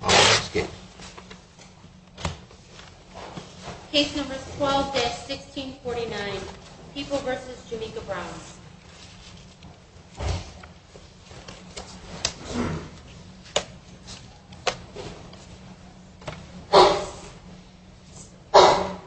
I'll ask it. Case numbers 12 16 49 people versus Jamaica Brown. Yes. Uh huh. Yeah.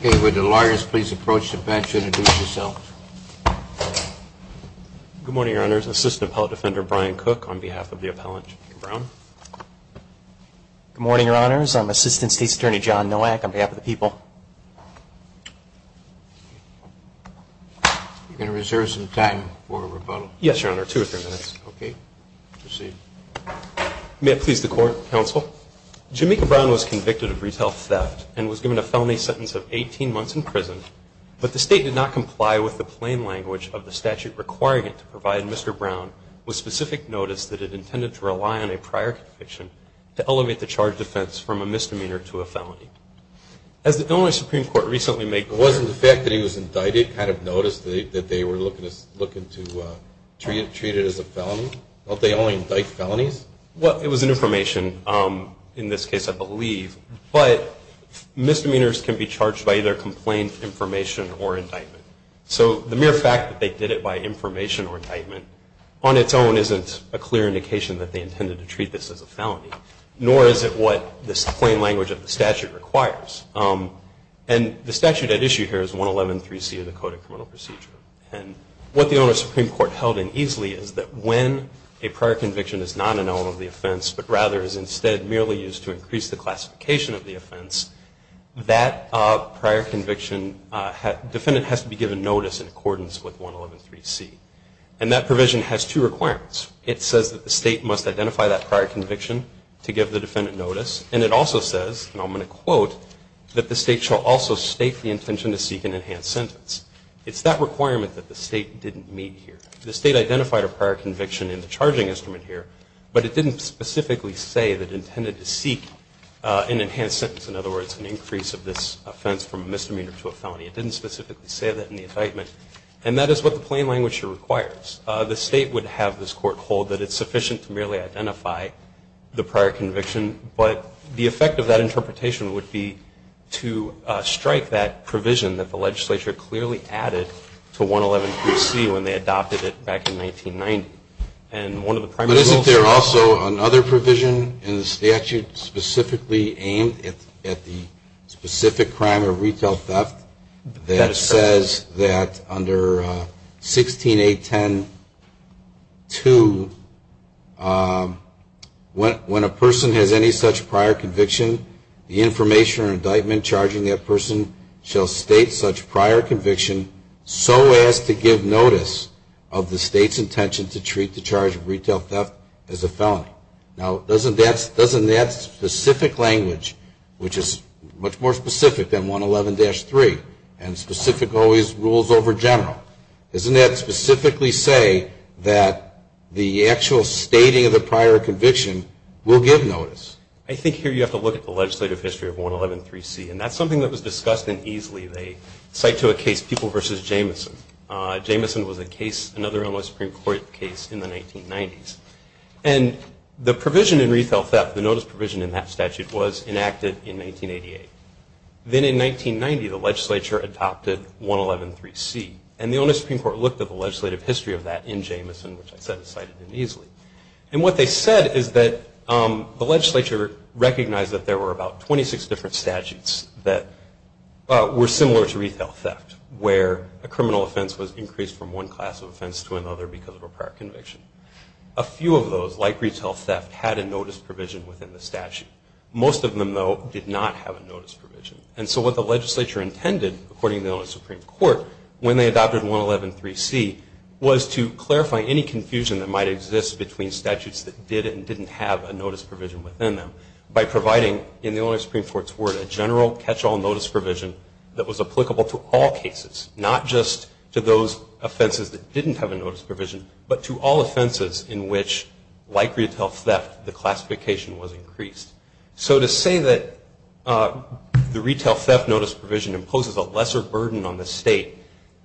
Okay. With the lawyers, please approach the bench. Introduce yourself. Good morning, Your Honor's assistant appellate defender, Brian Cook on behalf of the appellant Brown. Good morning, Your Honor's. I'm assistant State's attorney John Noack on behalf of the people. Okay. You're gonna reserve some time for rebuttal. Yes, Your Honor. Two or three minutes. Okay. May it please the court. Council. Jamaica Brown was convicted of retail theft and was given a felony sentence of 18 months in prison. But the state did not comply with the plain language of the statute requiring it to provide Mr Brown with specific notice that it intended to rely on a prior conviction to elevate the charge defense from a misdemeanor to a felony. As the only Supreme Court recently make wasn't the fact that he was indicted, kind of noticed that they were looking to look into treated as a felony. They only indict felonies. Well, it was an information. Um, in this case, I believe, but misdemeanors can be charged by either complaint information or indictment. So the mere fact that they did it by information or indictment on its own isn't a clear indication that they intended to treat this as a felony, nor is it what this plain language of the statute requires. Um, and the statute at issue here is 111.3 C of the Code of Criminal Procedure. And what the owner of Supreme Court held in easily is that when a prior conviction is not an element of the offense, but rather is instead merely used to increase the classification of the offense, that prior conviction, uh, defendant has to be given notice in accordance with 111.3 C. And that provision has two requirements. It says that the state must identify that prior conviction to give the defendant notice. And it also says, and I'm going to quote, that the state shall also state the intention to seek an enhanced sentence. It's that requirement that the state didn't meet here. The state identified a prior conviction in the charging instrument here, but it didn't specifically say that it intended to seek, uh, an enhanced sentence. In other words, an increase of this offense from a misdemeanor to a felony. It didn't specifically say that in the indictment. And that is what the plain language here requires. Uh, the state would have this court hold that it's sufficient to merely identify the prior conviction, but the effect of that interpretation would be to, uh, strike that provision that the legislature clearly added to 111.3 C. when they adopted it back in 1990. And one of the primary rules... But isn't there also another provision in the statute specifically aimed at the specific crime of retail theft that says that under, uh, 16.8.10.2, uh, when, when a person has any such prior conviction, the information or indictment charging that person shall state such prior conviction so as to give notice of the state's intention to treat the charge of retail theft as a felony. Now, doesn't that, doesn't that specific language, which is much more specific than 111.3 and specific always rules over general, doesn't that specifically say that the actual stating of the prior conviction will give notice? I think here you have to look at the legislative history of 111.3 C. And that's something that was discussed in easily. They cite to a case, People versus Jamison. Uh, Jamison was a case, another Illinois Supreme Court case in the 1990s. And the provision in retail theft, the notice provision in that statute was enacted in 1988. Then in 1990, the legislature adopted 111.3 C. And the Illinois Supreme Court looked at the legislative history of that in Jamison, which I said is cited in easily. And what they said is that, um, the legislature recognized that there were about 26 different statutes that were similar to retail theft, where a criminal offense was increased from one class of offense to another because of a prior conviction. A few of those, like retail theft, had a notice provision within the statute. Most of them, though, did not have a notice provision. And so what the adopted 111.3 C was to clarify any confusion that might exist between statutes that did and didn't have a notice provision within them by providing, in the Illinois Supreme Court's word, a general catch-all notice provision that was applicable to all cases, not just to those offenses that didn't have a notice provision, but to all offenses in which, like retail theft, the classification was increased. So to say that, uh, the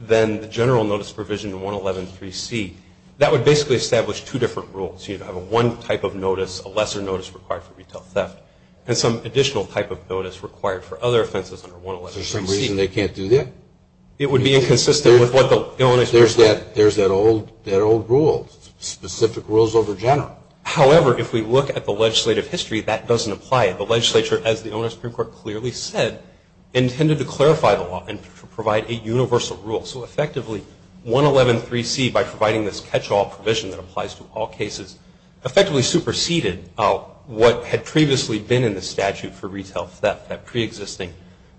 then the general notice provision in 111.3 C, that would basically establish two different rules. You'd have a one type of notice, a lesser notice required for retail theft, and some additional type of notice required for other offenses under 111.3 C. There's some reason they can't do that? It would be inconsistent with what the Illinois Supreme Court... There's that, there's that old, that old rule, specific rules over general. However, if we look at the legislative history, that doesn't apply. The legislature, as the Illinois Supreme Court clearly said, intended to clarify the law and provide a universal rule. So effectively, 111.3 C, by providing this catch-all provision that applies to all cases, effectively superseded, uh, what had previously been in the statute for retail theft, that pre-existing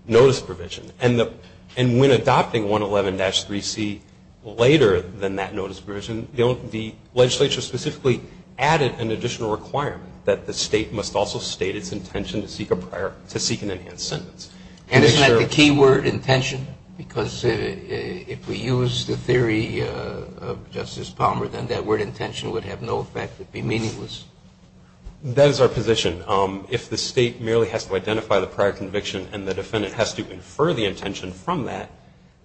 notice provision. And the, and when adopting 111.3 C later than that notice provision, the legislature specifically added an additional requirement that the state must also state its intention to seek a prior, to seek an enhanced sentence. And isn't that the key word, intention? Because if we use the theory of Justice Palmer, then that word, intention, would have no effect. It would be meaningless. That is our position. If the state merely has to identify the prior conviction and the defendant has to infer the intention from that,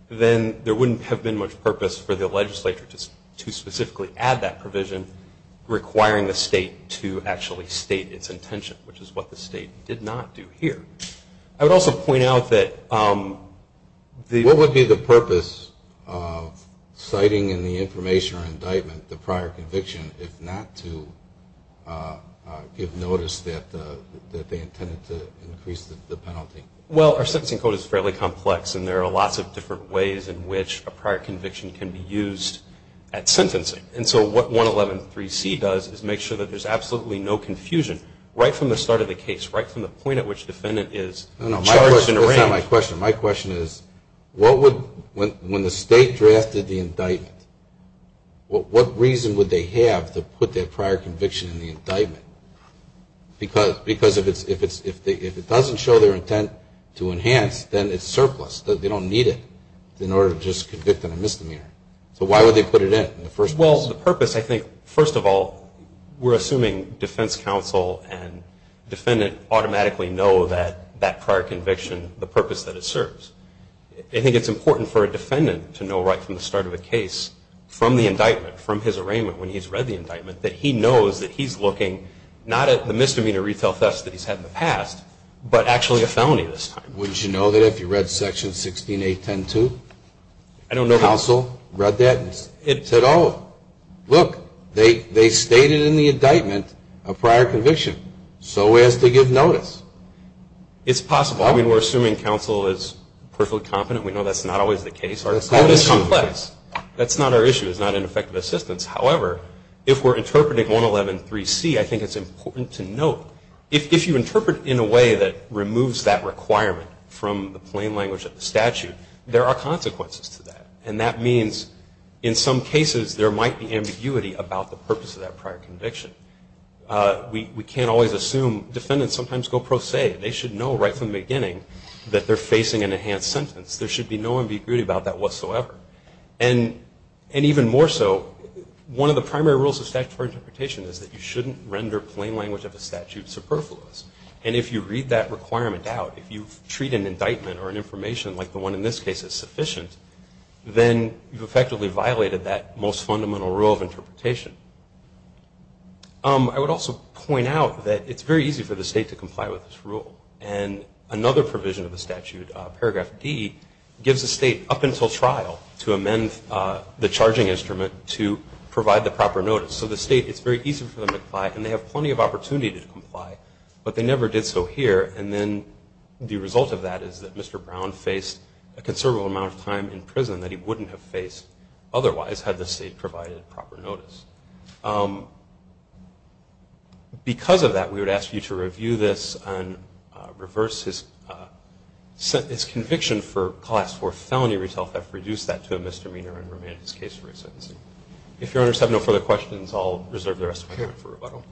then there wouldn't have been much purpose for the legislature to specifically add that provision, requiring the state to actually state its intention, which is what the state did not do here. I would also point out that, um, the... What would be the purpose of citing in the information or indictment the prior conviction, if not to, uh, give notice that, uh, that they intended to increase the penalty? Well, our sentencing code is fairly complex and there are lots of different ways in which a prior conviction can be used at sentencing. And so what 111.3 C does is make sure that there's absolutely no confusion, right from the start of the case, right from the point at which the defendant is charged and arraigned. No, no, my question is not my question. My question is, what would, when the state drafted the indictment, what reason would they have to put that prior conviction in the indictment? Because if it doesn't show their intent to enhance, then it's surplus, they don't need it in order to just convict on a misdemeanor. So why would they put it in, in the first place? Well, the purpose, I think, first of all, we're assuming defense counsel and defendant automatically know that, that prior conviction, the purpose that it serves. I think it's important for a defendant to know right from the start of a case, from the indictment, from his arraignment, when he's read the indictment, that he knows that he's looking not at the misdemeanor retail thefts that he's had in the past, but actually a felony this time. Wouldn't you know that if you read section 16.8.10.2? I don't know. Counsel read that and said, oh, look, they, they stated in the prior conviction, so as to give notice. It's possible. I mean, we're assuming counsel is perfectly competent. We know that's not always the case. That's not our issue. That's not our issue. It's not an effective assistance. However, if we're interpreting 111.3.C, I think it's important to note, if you interpret in a way that removes that requirement from the plain language of the statute, there are consequences to that. And that means, in some cases, there might be ambiguity about the purpose of that prior conviction. We, we can't always assume. Defendants sometimes go pro se. They should know right from the beginning that they're facing an enhanced sentence. There should be no ambiguity about that whatsoever. And, and even more so, one of the primary rules of statutory interpretation is that you shouldn't render plain language of a statute superfluous. And if you read that requirement out, if you treat an indictment or an information like the one in this case as sufficient, then you've effectively violated that most fundamental rule of interpretation. I would also point out that it's very easy for the state to comply with this rule. And another provision of the statute, paragraph D, gives the state up until trial to amend the charging instrument to provide the proper notice. So the state, it's very easy for them to comply, and they have plenty of opportunity to comply. But they never did so here. And then the result of that is that Mr. Brown faced a considerable amount of time in prison that he wouldn't have faced otherwise had the state provided proper notice. Because of that, we would ask you to review this and reverse his conviction for class 4 felony retell theft, reduce that to a misdemeanor, and remain in his case for his sentencing. If your honors have no further questions, I'll reserve the rest of my time for rebuttal.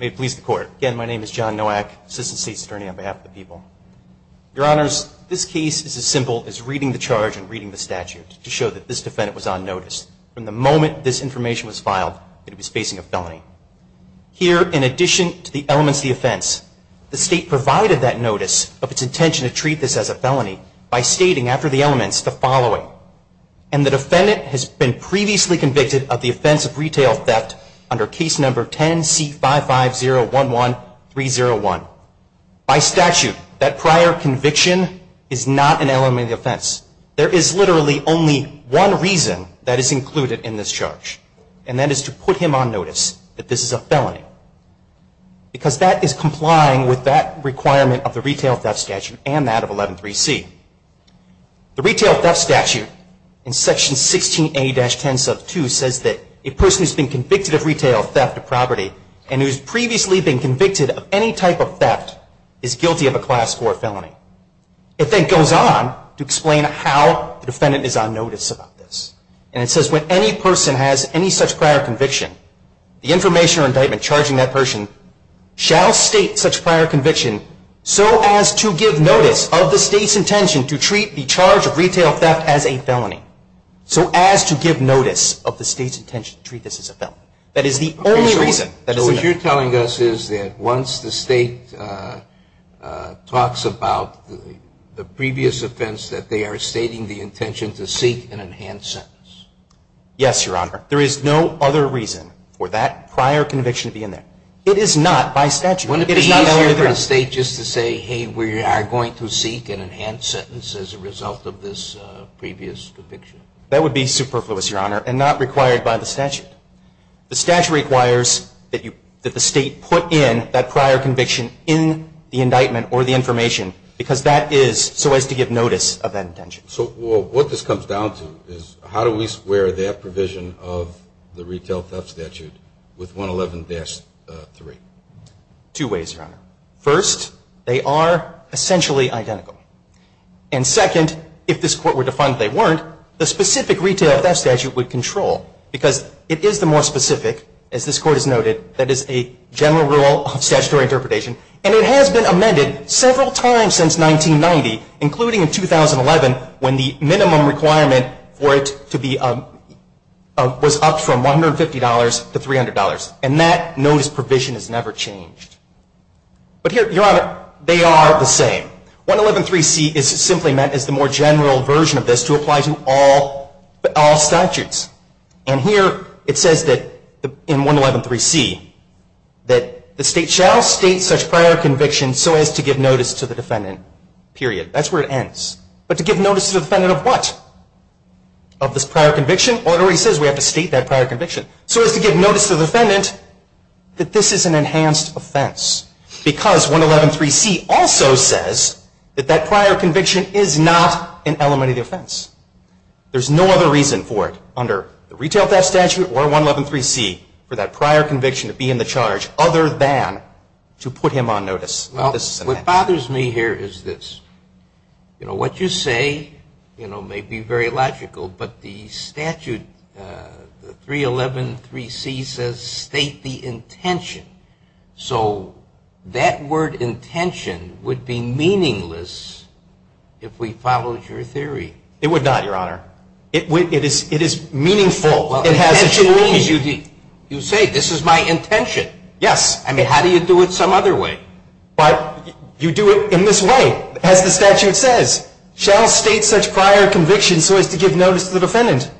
May it please the court. Again, my name is John Nowak, assistant state's attorney on behalf of the people. Your honors, this case is as simple as reading the charge and reading the statute to show that this defendant was on notice from the moment this information was filed that he was facing a felony. Here, in addition to the elements of the offense, the state provided that he was on notice of a felony by stating after the elements the following, and the defendant has been previously convicted of the offense of retail theft under case number 10C55011301. By statute, that prior conviction is not an element of the offense. There is literally only one reason that is included in this charge, and that is to put him on notice that this is a felony. Because that is complying with that requirement of the retail theft statute and that of 113C. The retail theft statute in section 16A-10 sub 2 says that a person who has been convicted of retail theft of property and who has previously been convicted of any type of theft is guilty of a class 4 felony. It then goes on to explain how the defendant is on notice about this. And it says when any person has any such prior conviction, the information or indictment charging that person shall state such prior conviction so as to give notice of the state's intention to treat the charge of retail theft as a felony. So as to give notice of the state's intention to treat this as a felony. That is the only reason that is included. So what you're telling us is that once the state talks about the previous offense that they are stating the intention to seek an enhanced sentence. Yes, your honor. There is no other reason for that prior conviction to be in there. It is not by statute. Wouldn't it be easier for the state just to say, hey, we are going to seek an enhanced sentence as a result of this previous conviction? That would be superfluous, your honor, and not required by the statute. The statute requires that the state put in that prior conviction in the indictment or the information because that is so as to give notice of that intention. So what this comes down to is how do we square that provision of the retail theft statute with 111-3? Two ways, your honor. First, they are essentially identical. And second, if this Court were to find that they weren't, the specific retail theft statute would control because it is the more specific, as this Court has noted, that is a general rule of statutory interpretation. And it has been amended several times since 1990, including in 2011 when the minimum requirement for it to be was upped from $150 to $300. And that notice provision has never changed. But here, your honor, they are the same. 111-3C is simply meant as the more general version of this to apply to all statutes. And here it says in 111-3C that the state shall state such prior conviction so as to give notice to the defendant, period. That's where it ends. But to give notice to the defendant of what? Of this prior conviction? Or it already says we have to state that prior conviction. So as to give notice to the defendant that this is an enhanced offense. Because 111-3C also says that that prior conviction is not an element of the offense. There's no other reason for it under the retail theft statute or 111-3C for that prior conviction to be in the charge other than to put him on notice. Well, what bothers me here is this. You know, what you say, you know, may be very logical. But the statute, the 311-3C says state the intention. So that word intention would be meaningless if we followed your theory. It would not, your honor. It is meaningful. It has a meaning. You say this is my intention. Yes. I mean, how do you do it some other way? But you do it in this way. As the statute says, shall state such prior conviction so as to give notice to the defendant.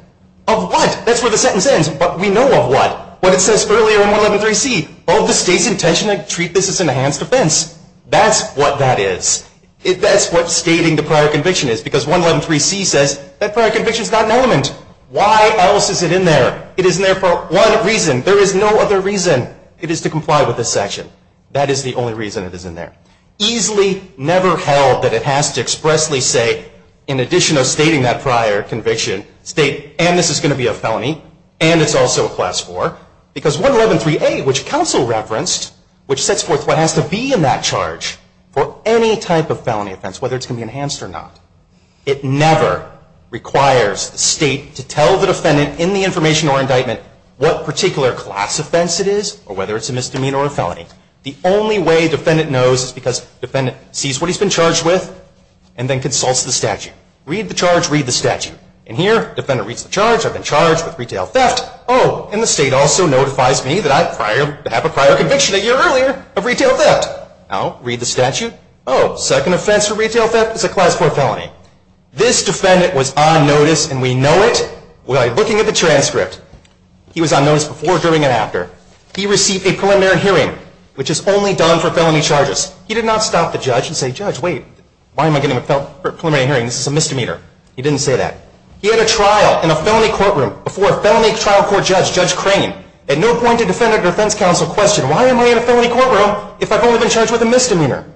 Of what? That's where the sentence ends. But we know of what. What it says earlier in 111-3C. Of the state's intention to treat this as an enhanced offense. That's what that is. That's what stating the prior conviction is. Because 111-3C says that prior conviction is not an element. Why else is it in there? It is in there for one reason. There is no other reason. It is to comply with this section. That is the only reason it is in there. Easily never held that it has to expressly say, in addition of stating that prior conviction, state, and this is going to be a felony, and it's also a class 4. Because 111-3A, which counsel referenced, which sets forth what has to be in that charge for any type of felony offense, whether it's going to be enhanced or not. It never requires the state to tell the defendant in the information or indictment what particular class offense it is, or whether it's a misdemeanor or a felony. The only way defendant knows is because defendant sees what he's been charged with and then consults the statute. Read the charge, read the statute. And here, defendant reads the charge. I've been charged with retail theft. Oh, and the state also notifies me that I have a prior conviction a year earlier of retail theft. I'll read the statute. Oh, second offense for retail theft is a class 4 felony. This defendant was on notice, and we know it by looking at the transcript. He was on notice before, during, and after. He received a preliminary hearing, which is only done for felony charges. He did not stop the judge and say, judge, wait. Why am I getting a preliminary hearing? This is a misdemeanor. He didn't say that. He had a trial in a felony courtroom before a felony trial court judge, Judge Crane. At no point did defendant or defense counsel question, why am I in a felony courtroom if I've only been charged with a misdemeanor?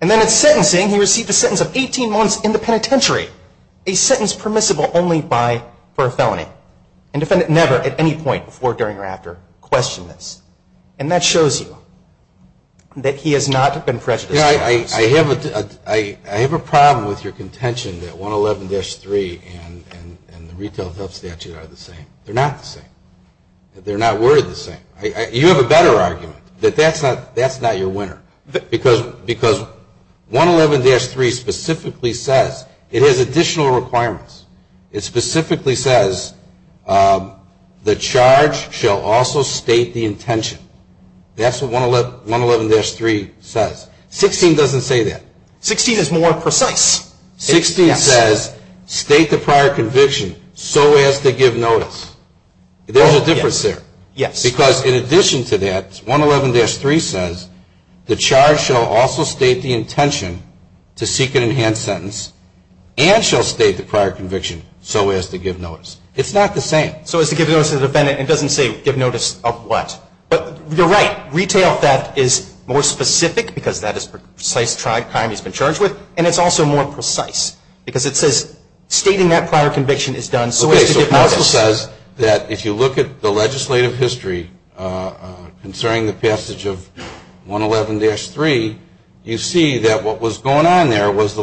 And then in sentencing, he received a sentence of 18 months in the penitentiary, a sentence permissible only by, for a felony. And defendant never, at any point, before, during, or after, questioned this. And that shows you that he has not been prejudiced. I have a problem with your contention that 111-3 and the retail theft statute are the same. They're not the same. They're not worded the same. You have a better argument, that that's not your winner. Because 111-3 specifically says, it has additional requirements. It specifically says, the charge shall also state the intention. That's what 111-3 says. 16 doesn't say that. 16 is more precise. 16 says, state the prior conviction so as to give notice. There's a difference there. Yes. Because in addition to that, 111-3 says, the charge shall also state the prior conviction so as to give notice. It's not the same. So as to give notice to the defendant. It doesn't say, give notice of what. But you're right. Retail theft is more specific, because that is the precise time he's been charged with. And it's also more precise. Because it says, stating that prior conviction is done so as to give notice. Okay. So it also says that if you look at the legislative history, concerning the passage of 111-3, you see that what was going on there was the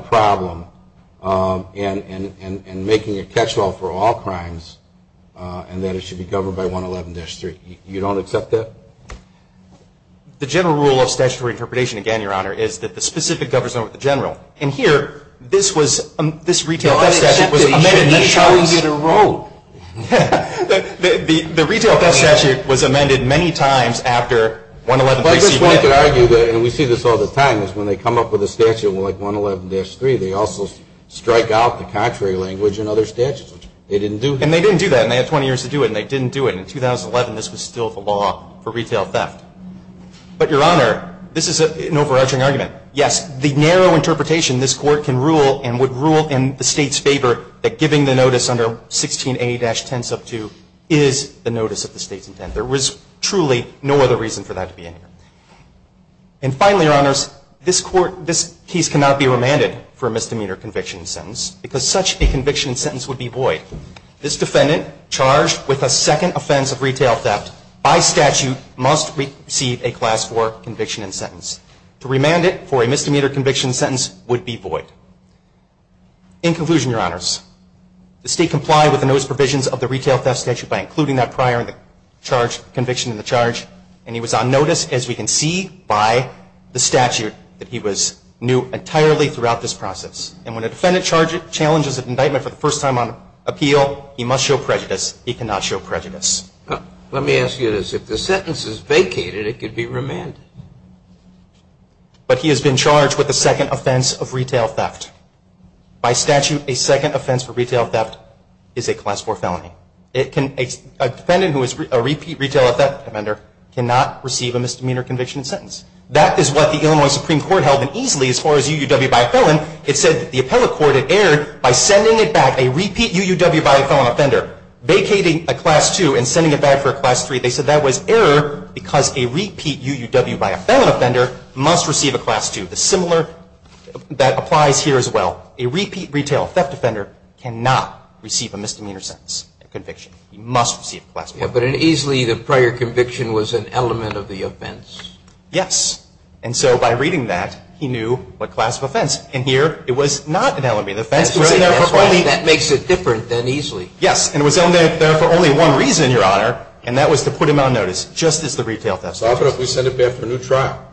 problem in making a catch-all for all crimes, and that it should be governed by 111-3. You don't accept that? The general rule of statutory interpretation, again, Your Honor, is that the specific governs over the general. And here, this was, this retail theft statute was amended many times. No, I accept that he should be charged in a row. The retail theft statute was amended many times after 111-3 was amended. Well, I guess one could argue that, and we see this all the time, is when they come up with a statute like 111-3, they also strike out the contrary language in other statutes, which they didn't do. And they didn't do that. And they had 20 years to do it, and they didn't do it. And in 2011, this was still the law for retail theft. But, Your Honor, this is an overarching argument. Yes, the narrow interpretation, this Court can rule and would rule in the State's favor that giving the notice under 16A-10 sub 2 is the notice of the State's intent. There was truly no other reason for that to be in here. And finally, Your Honors, this Court, this case cannot be remanded for a misdemeanor conviction sentence because such a conviction sentence would be void. This defendant charged with a second offense of retail theft by statute must receive a Class IV conviction and sentence. To remand it for a misdemeanor conviction sentence would be void. In conclusion, Your Honors, the State complied with the notice provisions of the retail theft statute by including that prior in the charge, conviction in the case. We can see by the statute that he was new entirely throughout this process. And when a defendant challenges an indictment for the first time on appeal, he must show prejudice. He cannot show prejudice. Let me ask you this. If the sentence is vacated, it could be remanded. But he has been charged with a second offense of retail theft. By statute, a second offense for retail theft is a Class IV felony. A defendant who is a repeat retail theft offender cannot receive a misdemeanor conviction sentence. That is what the Illinois Supreme Court held and easily, as far as UUW by a felon, it said the appellate court had erred by sending it back, a repeat UUW by a felon offender, vacating a Class II and sending it back for a Class III. They said that was error because a repeat UUW by a felon offender must receive a Class II. The similar, that applies here as well. A repeat retail theft offender cannot receive a misdemeanor sentence, a conviction. He must receive a Class IV. But in easily, the prior conviction was an element of the offense. Yes. And so by reading that, he knew what Class of offense. In here, it was not an element of the offense. That's right. That makes it different than easily. Yes. And it was only there for only one reason, Your Honor, and that was to put him on notice, just as the retail theft. So what if we send it back for a new trial?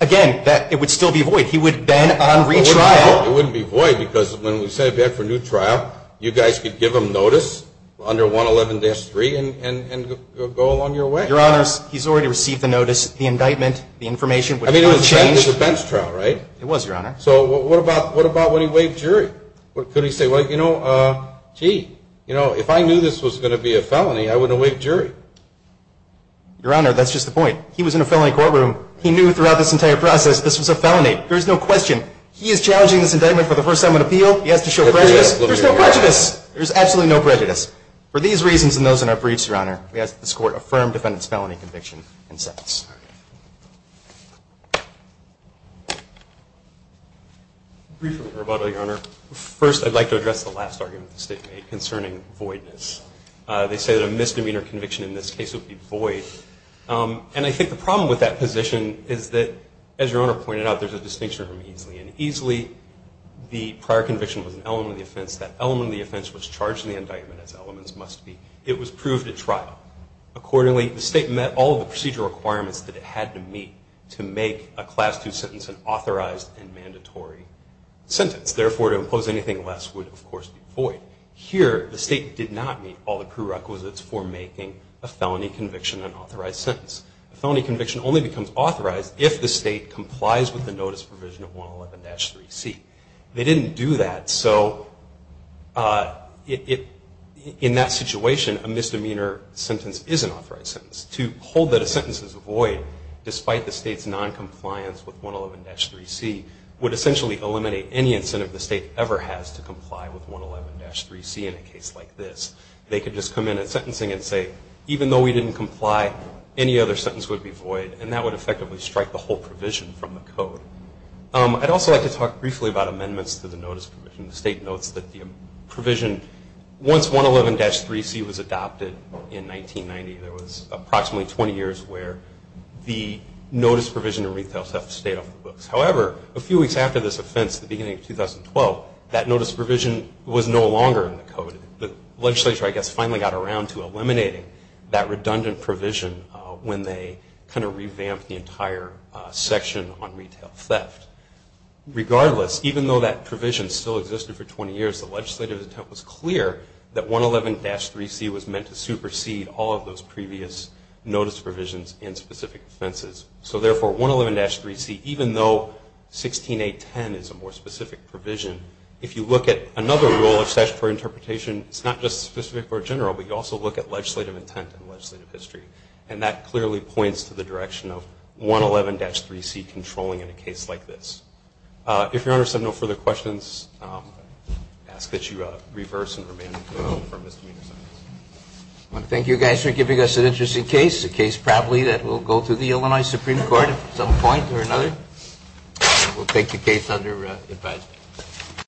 Again, it would still be void. He would then on retrial. It wouldn't be void because when we send it back for a new trial, you guys could give him notice under 111-3 and go along your way. Your Honor, he's already received the notice, the indictment, the information. I mean, it was a bench trial, right? It was, Your Honor. So what about when he waived jury? What could he say? Well, you know, gee, you know, if I knew this was going to be a felony, I wouldn't have waived jury. Your Honor, that's just the point. He was in a felony courtroom. He knew throughout this entire process this was a felony. There is no question. He is challenging this indictment for the first time on appeal. He has to show prejudice. There's no prejudice. There's absolutely no prejudice. For these reasons and those in our briefs, Your Honor, we ask that this court affirm defendant's felony conviction and sentence. Briefly, Roboto, Your Honor, first, I'd like to address the last argument the state made concerning voidness. They say that a misdemeanor conviction in this case would be void. And I think the problem with that position is that, as Your Honor pointed out, there's a distinction between easily and easily. The prior conviction was an element of the offense. That element of the offense was charged in the indictment as elements must be. It was proved at trial. Accordingly, the state met all the procedural requirements that it had to meet to make a Class II sentence an authorized and mandatory sentence. Therefore, to impose anything less would, of course, be void. Here, the state did not meet all the prerequisites for making a felony conviction an authorized sentence. A felony conviction only becomes authorized if the state complies with the notice provision of 111-3C. They didn't do that. So in that situation, a misdemeanor sentence is an authorized sentence. To hold that a sentence is a void, despite the state's noncompliance with 111-3C, would essentially eliminate any incentive the state ever has to comply with 111-3C in a case like this. They could just come in at sentencing and say, even though we didn't comply, any other sentence would be void. And that would effectively strike the whole provision from the code. I'd also like to talk briefly about amendments to the notice provision. The state notes that the provision, once 111-3C was adopted in 1990, there was approximately 20 years where the notice provision and retail stuff stayed off the books. However, a few weeks after this offense, the beginning of 2012, that notice provision was no longer in the code. The legislature, I guess, finally got around to eliminating that redundant provision when they kind of revamped the entire section on retail theft. Regardless, even though that provision still existed for 20 years, the legislative intent was clear that 111-3C was meant to supersede all of those previous notice provisions in specific offenses. So therefore, 111-3C, even though 16.810 is a more specific provision, if you look at another rule of statutory interpretation, it's not just specific for a general, but you also look at legislative intent and legislative history. And that clearly points to the direction of 111-3C controlling in a case like this. If your honors have no further questions, I ask that you reverse and remain in the courtroom for a misdemeanor sentence. I want to thank you guys for giving us an interesting case, a case probably that will go through the Illinois Supreme Court at some point or another. We'll take the case under advisory.